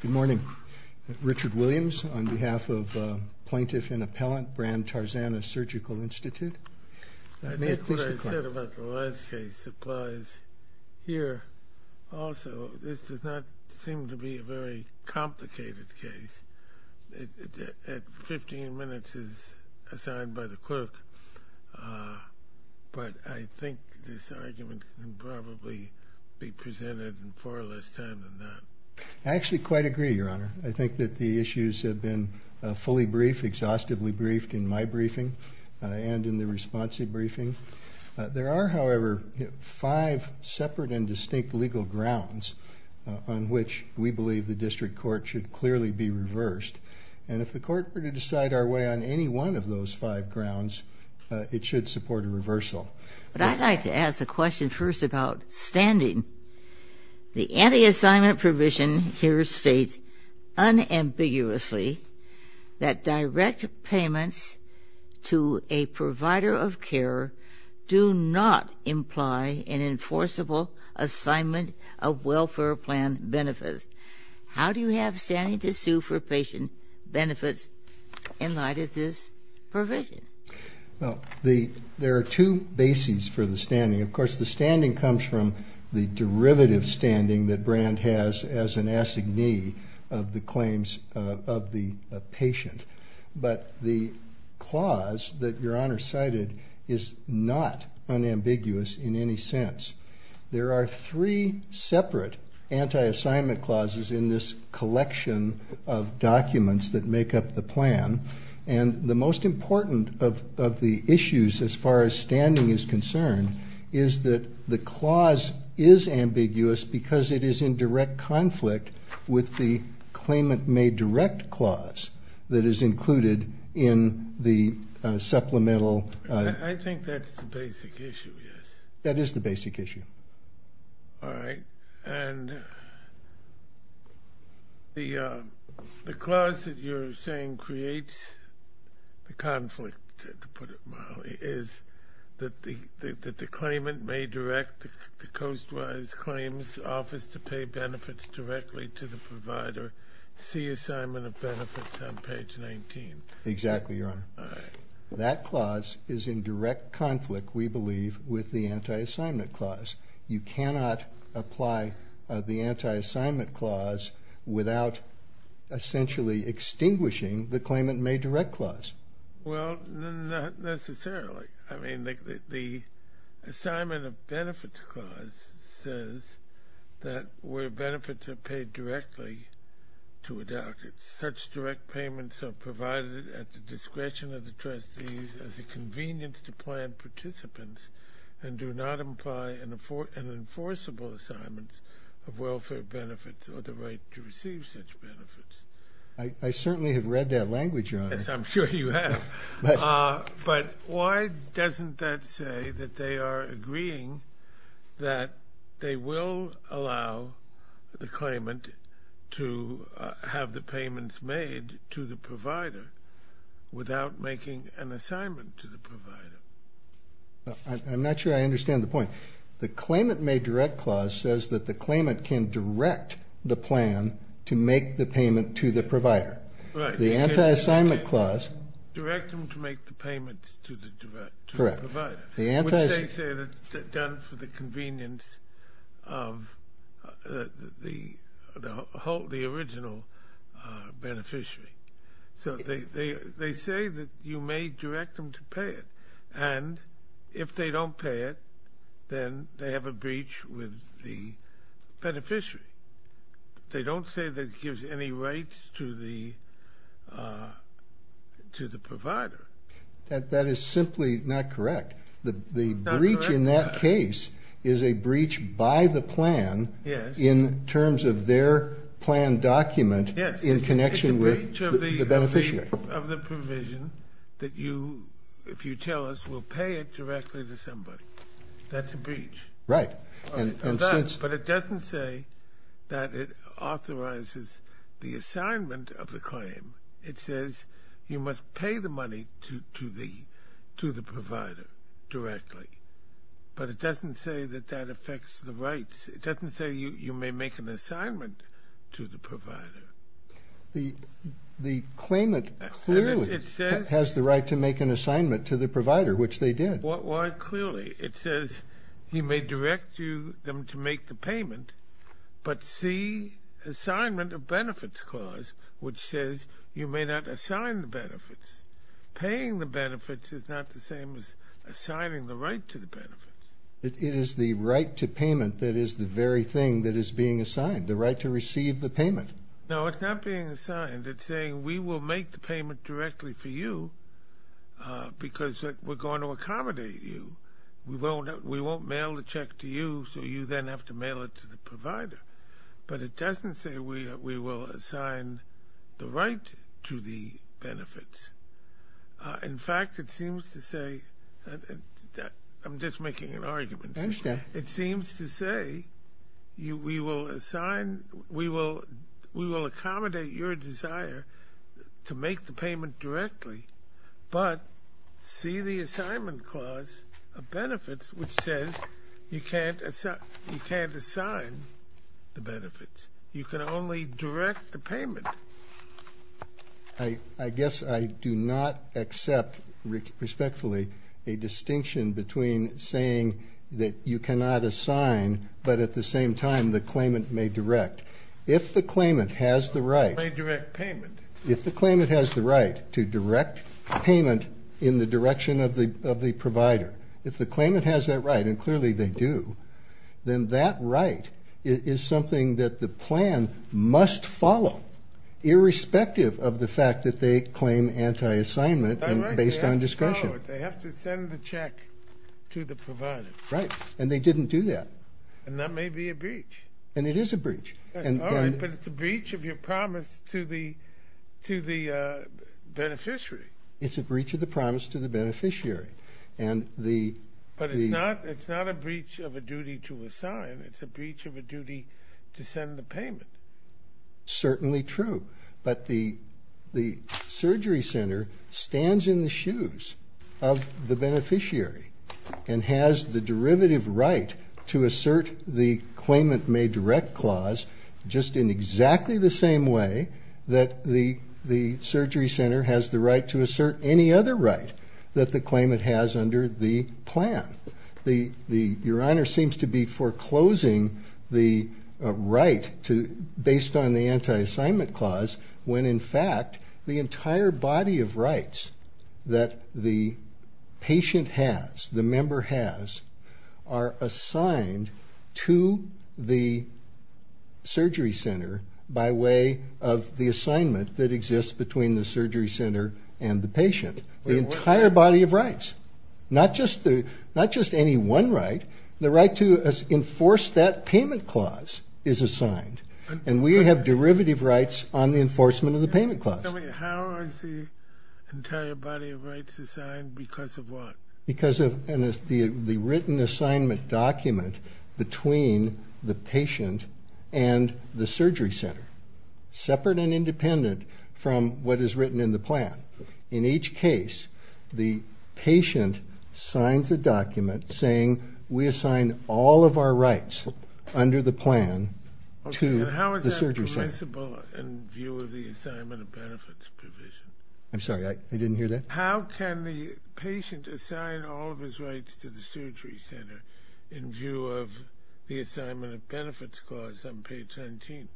Good morning. Richard Williams on behalf of Plaintiff and Appellant, Brand Tarzana Surgical Institute. I think what I said about the last case applies here also. This does not seem to be a very complicated case. Fifteen minutes is assigned by the clerk, but I think this argument can probably be presented in far less time than that. I actually quite agree, Your Honor. I think that the issues have been fully briefed, exhaustively briefed, in my briefing and in the response briefing. There are, however, five separate and distinct legal grounds on which we believe the district court should clearly be reversed. And if the court were to decide our way on any one of those five grounds, it should support a reversal. But I'd like to ask a question first about standing. The anti-assignment provision here states unambiguously that direct payments to a provider of care do not imply an enforceable assignment of welfare plan benefits. How do you have standing to sue for patient benefits in light of this provision? Well, there are two bases for the standing. Of course, the standing comes from the derivative standing that Brand has as an assignee of the claims of the patient. But the clause that Your Honor cited is not unambiguous in any sense. There are three separate anti-assignment clauses in this collection of documents that make up the plan. And the most important of the issues as far as standing is concerned is that the clause is ambiguous because it is in direct conflict with the claimant may direct clause that is included in the supplemental. I think that's the basic issue, yes. That is the basic issue. All right. And the clause that you're saying creates the conflict, to put it mildly, is that the claimant may direct the Coastwise Claims Office to pay benefits directly to the provider, see assignment of benefits on page 19. Exactly, Your Honor. All right. That clause is in direct conflict, we believe, with the anti-assignment clause. You cannot apply the anti-assignment clause without essentially extinguishing the claimant may direct clause. Well, not necessarily. I mean, the assignment of benefits clause says that where benefits are paid directly to a doctor, such direct payments are provided at the discretion of the trustees as a convenience to plan participants and do not imply an enforceable assignment of welfare benefits or the right to receive such benefits. I certainly have read that language, Your Honor. Yes, I'm sure you have. But why doesn't that say that they are agreeing that they will allow the claimant to have the payments made to the provider without making an assignment to the provider? I'm not sure I understand the point. The claimant may direct clause says that the claimant can direct the plan to make the payment to the provider. Right. The anti-assignment clause. Direct them to make the payments to the provider. Correct. Which they say is done for the convenience of the original beneficiary. So they say that you may direct them to pay it. And if they don't pay it, then they have a breach with the beneficiary. They don't say that it gives any rights to the provider. That is simply not correct. The breach in that case is a breach by the plan in terms of their plan document in connection with the beneficiary. It's a breach of the provision that you, if you tell us, will pay it directly to somebody. That's a breach. Right. But it doesn't say that it authorizes the assignment of the claim. It says you must pay the money to the provider directly. But it doesn't say that that affects the rights. It doesn't say you may make an assignment to the provider. The claimant clearly has the right to make an assignment to the provider, which they did. Why clearly? It says you may direct them to make the payment, but see assignment of benefits clause, which says you may not assign the benefits. Paying the benefits is not the same as assigning the right to the benefits. It is the right to payment that is the very thing that is being assigned, the right to receive the payment. No, it's not being assigned. It's saying we will make the payment directly for you because we're going to accommodate you. We won't mail the check to you, so you then have to mail it to the provider. But it doesn't say we will assign the right to the benefits. In fact, it seems to say, I'm just making an argument. It seems to say we will assign, we will accommodate your desire to make the payment directly, but see the assignment clause of benefits, which says you can't assign the benefits. You can only direct the payment. I guess I do not accept respectfully a distinction between saying that you cannot assign, but at the same time the claimant may direct. If the claimant has the right to direct payment in the direction of the provider, if the claimant has that right, and clearly they do, then that right is something that the plan must follow, irrespective of the fact that they claim anti-assignment based on discretion. They have to send the check to the provider. Right, and they didn't do that. And that may be a breach. And it is a breach. All right, but it's a breach of your promise to the beneficiary. It's a breach of the promise to the beneficiary. But it's not a breach of a duty to assign. It's a breach of a duty to send the payment. Certainly true. But the surgery center stands in the shoes of the beneficiary and has the derivative right to assert the claimant may direct clause just in exactly the same way that the surgery center has the right to assert any other right that the claimant has under the plan. Your Honor seems to be foreclosing the right based on the anti-assignment clause when, in fact, the entire body of rights that the patient has, the member has, are assigned to the surgery center by way of the assignment that exists between the surgery center and the patient. The entire body of rights. Not just any one right. The right to enforce that payment clause is assigned. And we have derivative rights on the enforcement of the payment clause. How are the entire body of rights assigned? Because of what? Because of the written assignment document between the patient and the surgery center, separate and independent from what is written in the plan. In each case, the patient signs a document saying, we assign all of our rights under the plan to the surgery center. How is that permissible in view of the assignment of benefits provision? I'm sorry, I didn't hear that. How can the patient assign all of his rights to the surgery center in view of the assignment of benefits clause on page 17?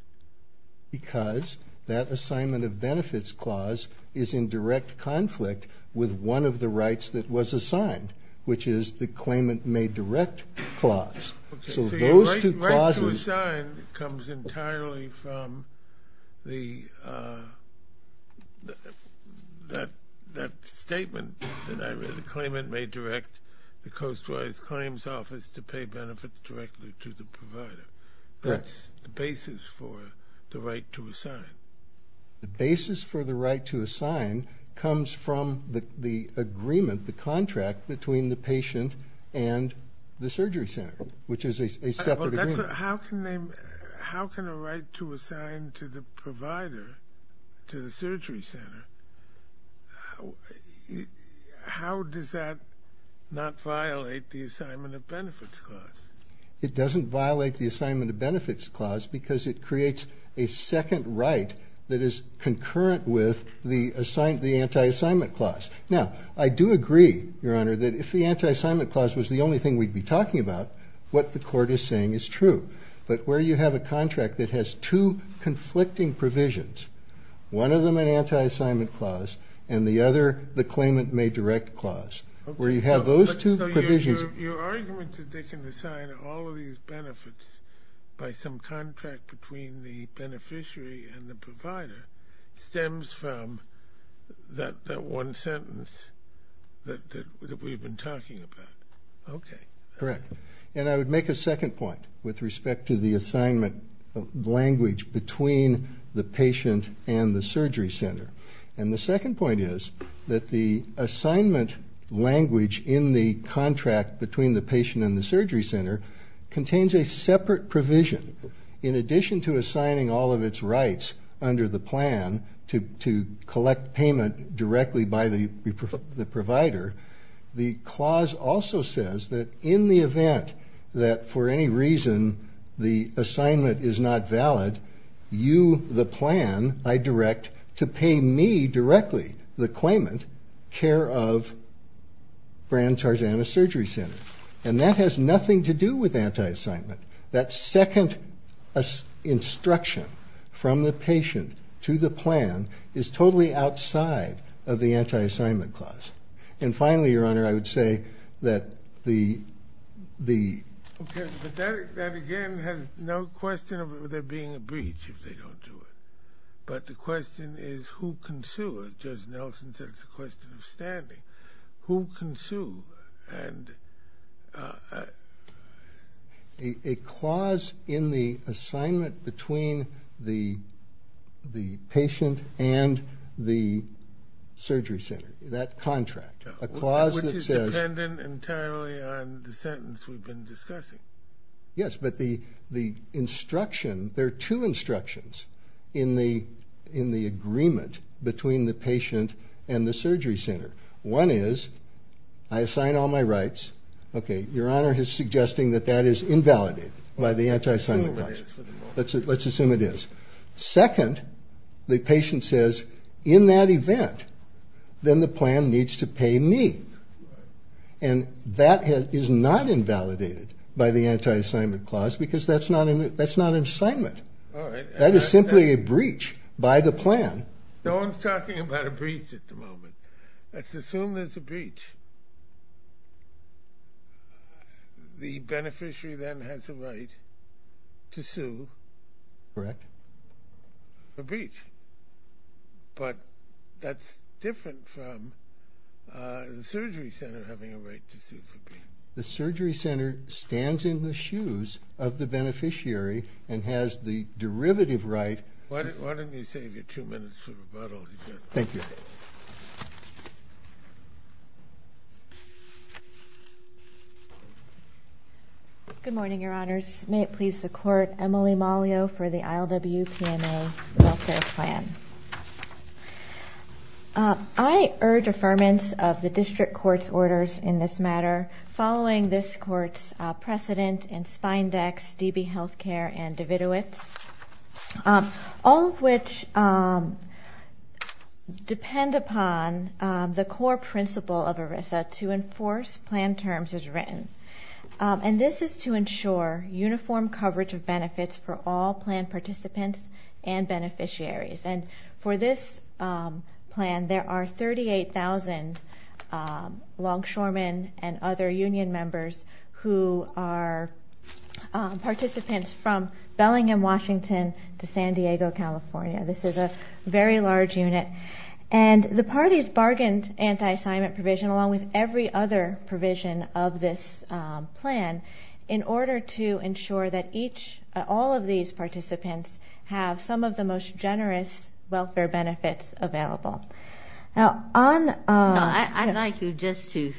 Because that assignment of benefits clause is in direct conflict with one of the rights that was assigned, which is the claimant may direct clause. So those two clauses. The right to assign comes entirely from that statement that I read, the claimant may direct the Coast Guard's claims office to pay benefits directly to the provider. That's the basis for the right to assign. The basis for the right to assign comes from the agreement, the contract between the patient and the surgery center, which is a separate agreement. How can a right to assign to the provider, to the surgery center, how does that not violate the assignment of benefits clause? It doesn't violate the assignment of benefits clause because it creates a second right that is concurrent with the anti-assignment clause. Now, I do agree, Your Honor, that if the anti-assignment clause was the only thing we'd be talking about, what the court is saying is true. But where you have a contract that has two conflicting provisions, one of them an anti-assignment clause and the other the claimant may direct clause, where you have those two provisions. Your argument that they can assign all of these benefits by some contract between the beneficiary and the provider stems from that one sentence that we've been talking about. Okay. Correct. And I would make a second point with respect to the assignment language between the patient and the surgery center. And the second point is that the assignment language in the contract between the patient and the surgery center contains a separate provision. In addition to assigning all of its rights under the plan to collect payment directly by the provider, the clause also says that in the event that for any reason the assignment is not valid, you, the plan, I direct to pay me directly, the claimant, care of Brands Tarzana Surgery Center. And that has nothing to do with anti-assignment. That second instruction from the patient to the plan is totally outside of the anti-assignment clause. And finally, Your Honor, I would say that the ‑‑ That again has no question of there being a breach if they don't do it. But the question is who can sue it? Judge Nelson said it's a question of standing. Who can sue? And a clause in the assignment between the patient and the surgery center, that contract, a clause that says ‑‑ Yes, but the instruction, there are two instructions in the agreement between the patient and the surgery center. One is I assign all my rights. Okay, Your Honor is suggesting that that is invalidated by the anti-assignment clause. Let's assume it is. Second, the patient says in that event, then the plan needs to pay me. And that is not invalidated by the anti-assignment clause because that's not an assignment. All right. That is simply a breach by the plan. No one is talking about a breach at the moment. Let's assume there's a breach. The beneficiary then has a right to sue. Correct. A breach. But that's different from the surgery center having a right to sue. The surgery center stands in the shoes of the beneficiary and has the derivative right. Why don't you save your two minutes for rebuttal. Thank you. Good morning, Your Honors. May it please the Court, Emily Mollio for the ILW-PMA welfare plan. I urge affirmance of the district court's orders in this matter following this court's precedent in Spindex, DB Healthcare, and Davidowitz, all of which depend upon the core principle of ERISA, to enforce plan terms as written. And this is to ensure uniform coverage of benefits for all plan participants and beneficiaries. And for this plan, there are 38,000 longshoremen and other union members who are participants from Bellingham, Washington, to San Diego, California. This is a very large unit. And the parties bargained anti-assignment provision along with every other provision of this plan in order to ensure that each, all of these participants have some of the most generous welfare benefits available. Now, on- No, I'd like you just to,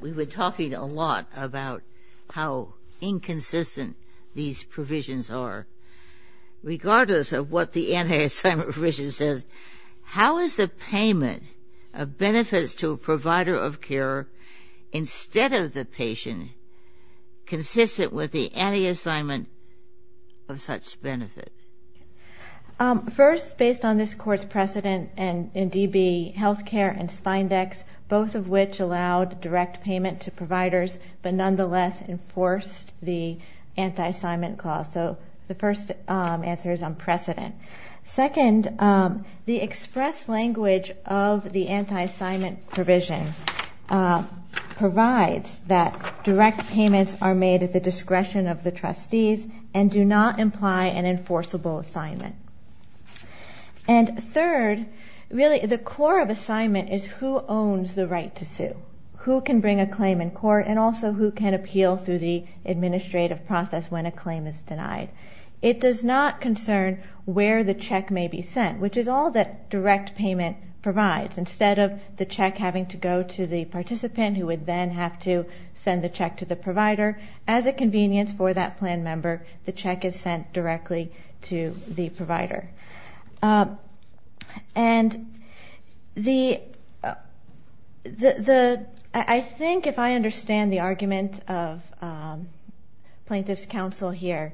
we were talking a lot about how inconsistent these provisions are. Regardless of what the anti-assignment provision says, how is the payment of benefits to a provider of care instead of the patient consistent with the anti-assignment of such benefits? First, based on this court's precedent in DB Healthcare and Spindex, both of which allowed direct payment to providers but nonetheless enforced the anti-assignment clause. So the first answer is unprecedented. Second, the express language of the anti-assignment provision provides that direct payments are made at the discretion of the trustees and do not imply an enforceable assignment. And third, really the core of assignment is who owns the right to sue, who can bring a claim in court, and also who can appeal through the administrative process when a claim is denied. It does not concern where the check may be sent, which is all that direct payment provides. Instead of the check having to go to the participant who would then have to send the check to the provider, as a convenience for that plan member, the check is sent directly to the provider. And I think if I understand the argument of plaintiff's counsel here,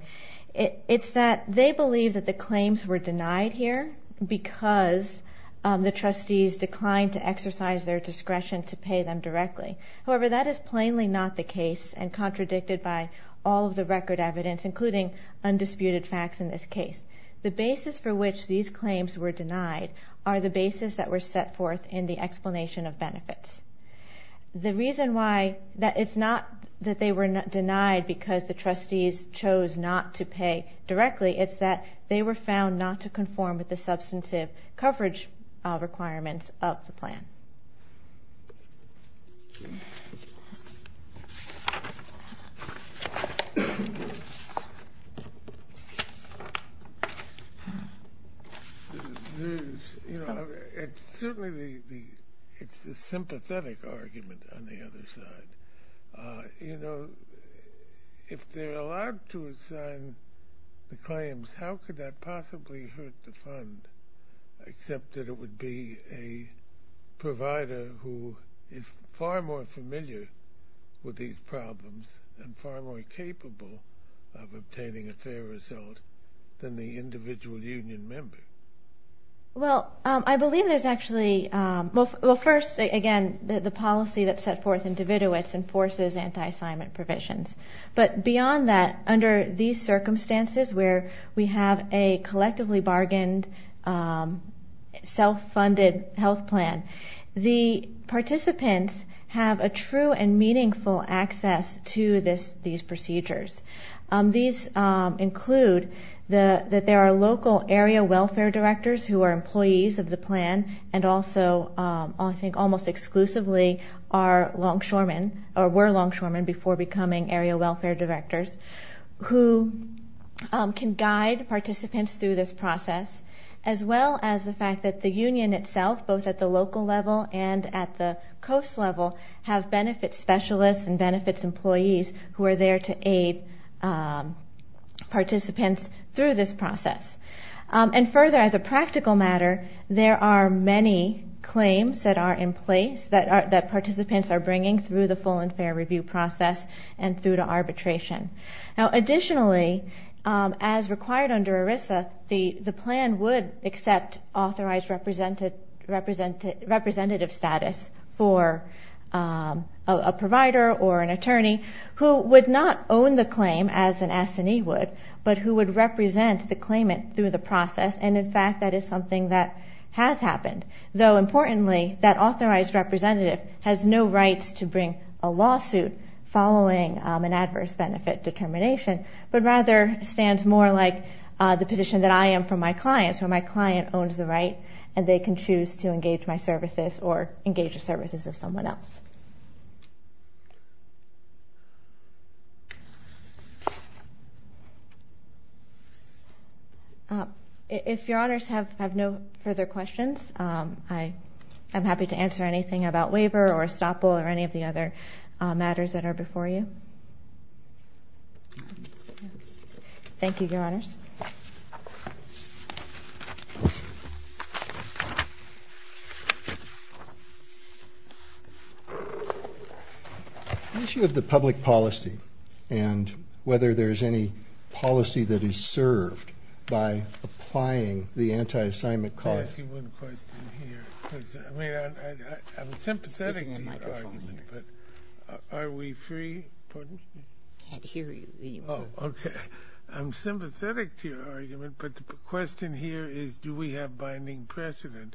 it's that they believe that the claims were denied here because the trustees declined to exercise their discretion to pay them directly. However, that is plainly not the case and contradicted by all of the record evidence, including undisputed facts in this case. The basis for which these claims were denied are the basis that were set forth in the explanation of benefits. The reason why it's not that they were denied because the trustees chose not to pay directly is that they were found not to conform with the substantive coverage requirements of the plan. Certainly, it's the sympathetic argument on the other side. You know, if they're allowed to assign the claims, how could that possibly hurt the fund, except that it would be a provider who is far more familiar with these problems and far more capable of obtaining a fair result than the individual union member? Well, I believe there's actually – well, first, again, the policy that's set forth in dividuits enforces anti-assignment provisions. But beyond that, under these circumstances where we have a collectively bargained, self-funded health plan, the participants have a true and meaningful access to these procedures. These include that there are local area welfare directors who are employees of the plan and also I think almost exclusively are longshoremen or were longshoremen before becoming area welfare directors who can guide participants through this process, as well as the fact that the union itself, both at the local level and at the coast level, have benefits specialists and benefits employees who are there to aid participants through this process. And further, as a practical matter, there are many claims that are in place that participants are bringing through the full and fair review process and through to arbitration. Now, additionally, as required under ERISA, the plan would accept authorized representative status for a provider or an attorney who would not own the claim as an S&E would, but who would represent the claimant through the process. And, in fact, that is something that has happened. Though, importantly, that authorized representative has no rights to bring a lawsuit following an adverse benefit determination, but rather stands more like the position that I am from my clients, where my client owns the right and they can choose to engage my services or engage the services of someone else. Thank you. If Your Honors have no further questions, I am happy to answer anything about waiver or estoppel or any of the other matters that are before you. Thank you, Your Honors. The issue of the public policy and whether there is any policy that is served by applying the anti-assignment clause. Let me ask you one question here. I am sympathetic to your argument, but the question here is, do we have binding precedent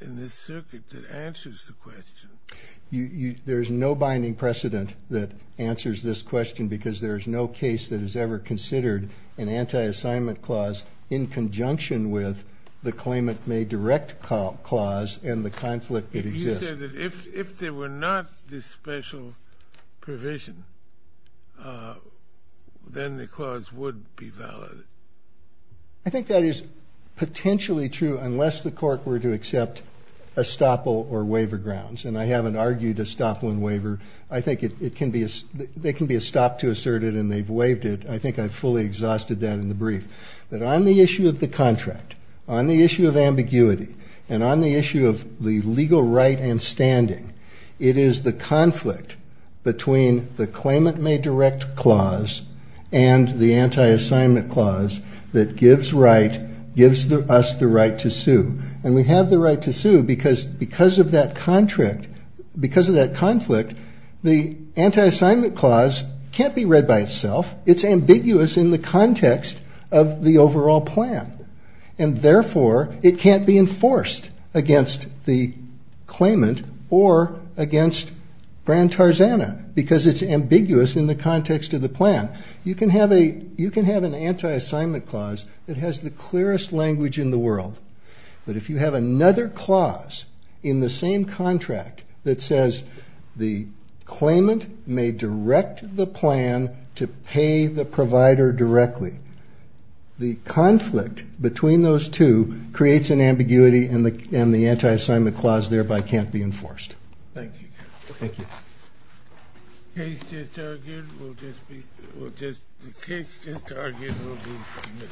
in this circuit that answers the question? There is no binding precedent that answers this question because there is no case that is ever considered an anti-assignment clause in conjunction with the claimant-made direct clause and the conflict that exists. You said that if there were not this special provision, then the clause would be valid. I think that is potentially true unless the court were to accept estoppel or waiver grounds, and I haven't argued estoppel and waiver. I think it can be a stop to assert it and they've waived it. I think I fully exhausted that in the brief. But on the issue of the contract, on the issue of ambiguity, and on the issue of the legal right and standing, it is the conflict between the claimant-made direct clause and the anti-assignment clause that gives us the right to sue. And we have the right to sue because of that conflict, the anti-assignment clause can't be read by itself. It's ambiguous in the context of the overall plan, and therefore it can't be enforced against the claimant or against Bran-Tarzana because it's ambiguous in the context of the plan. You can have an anti-assignment clause that has the clearest language in the world, but if you have another clause in the same contract that says the claimant may direct the plan to pay the provider directly, the conflict between those two creates an ambiguity and the anti-assignment clause thereby can't be enforced. Thank you. Thank you. The case just argued will be submitted.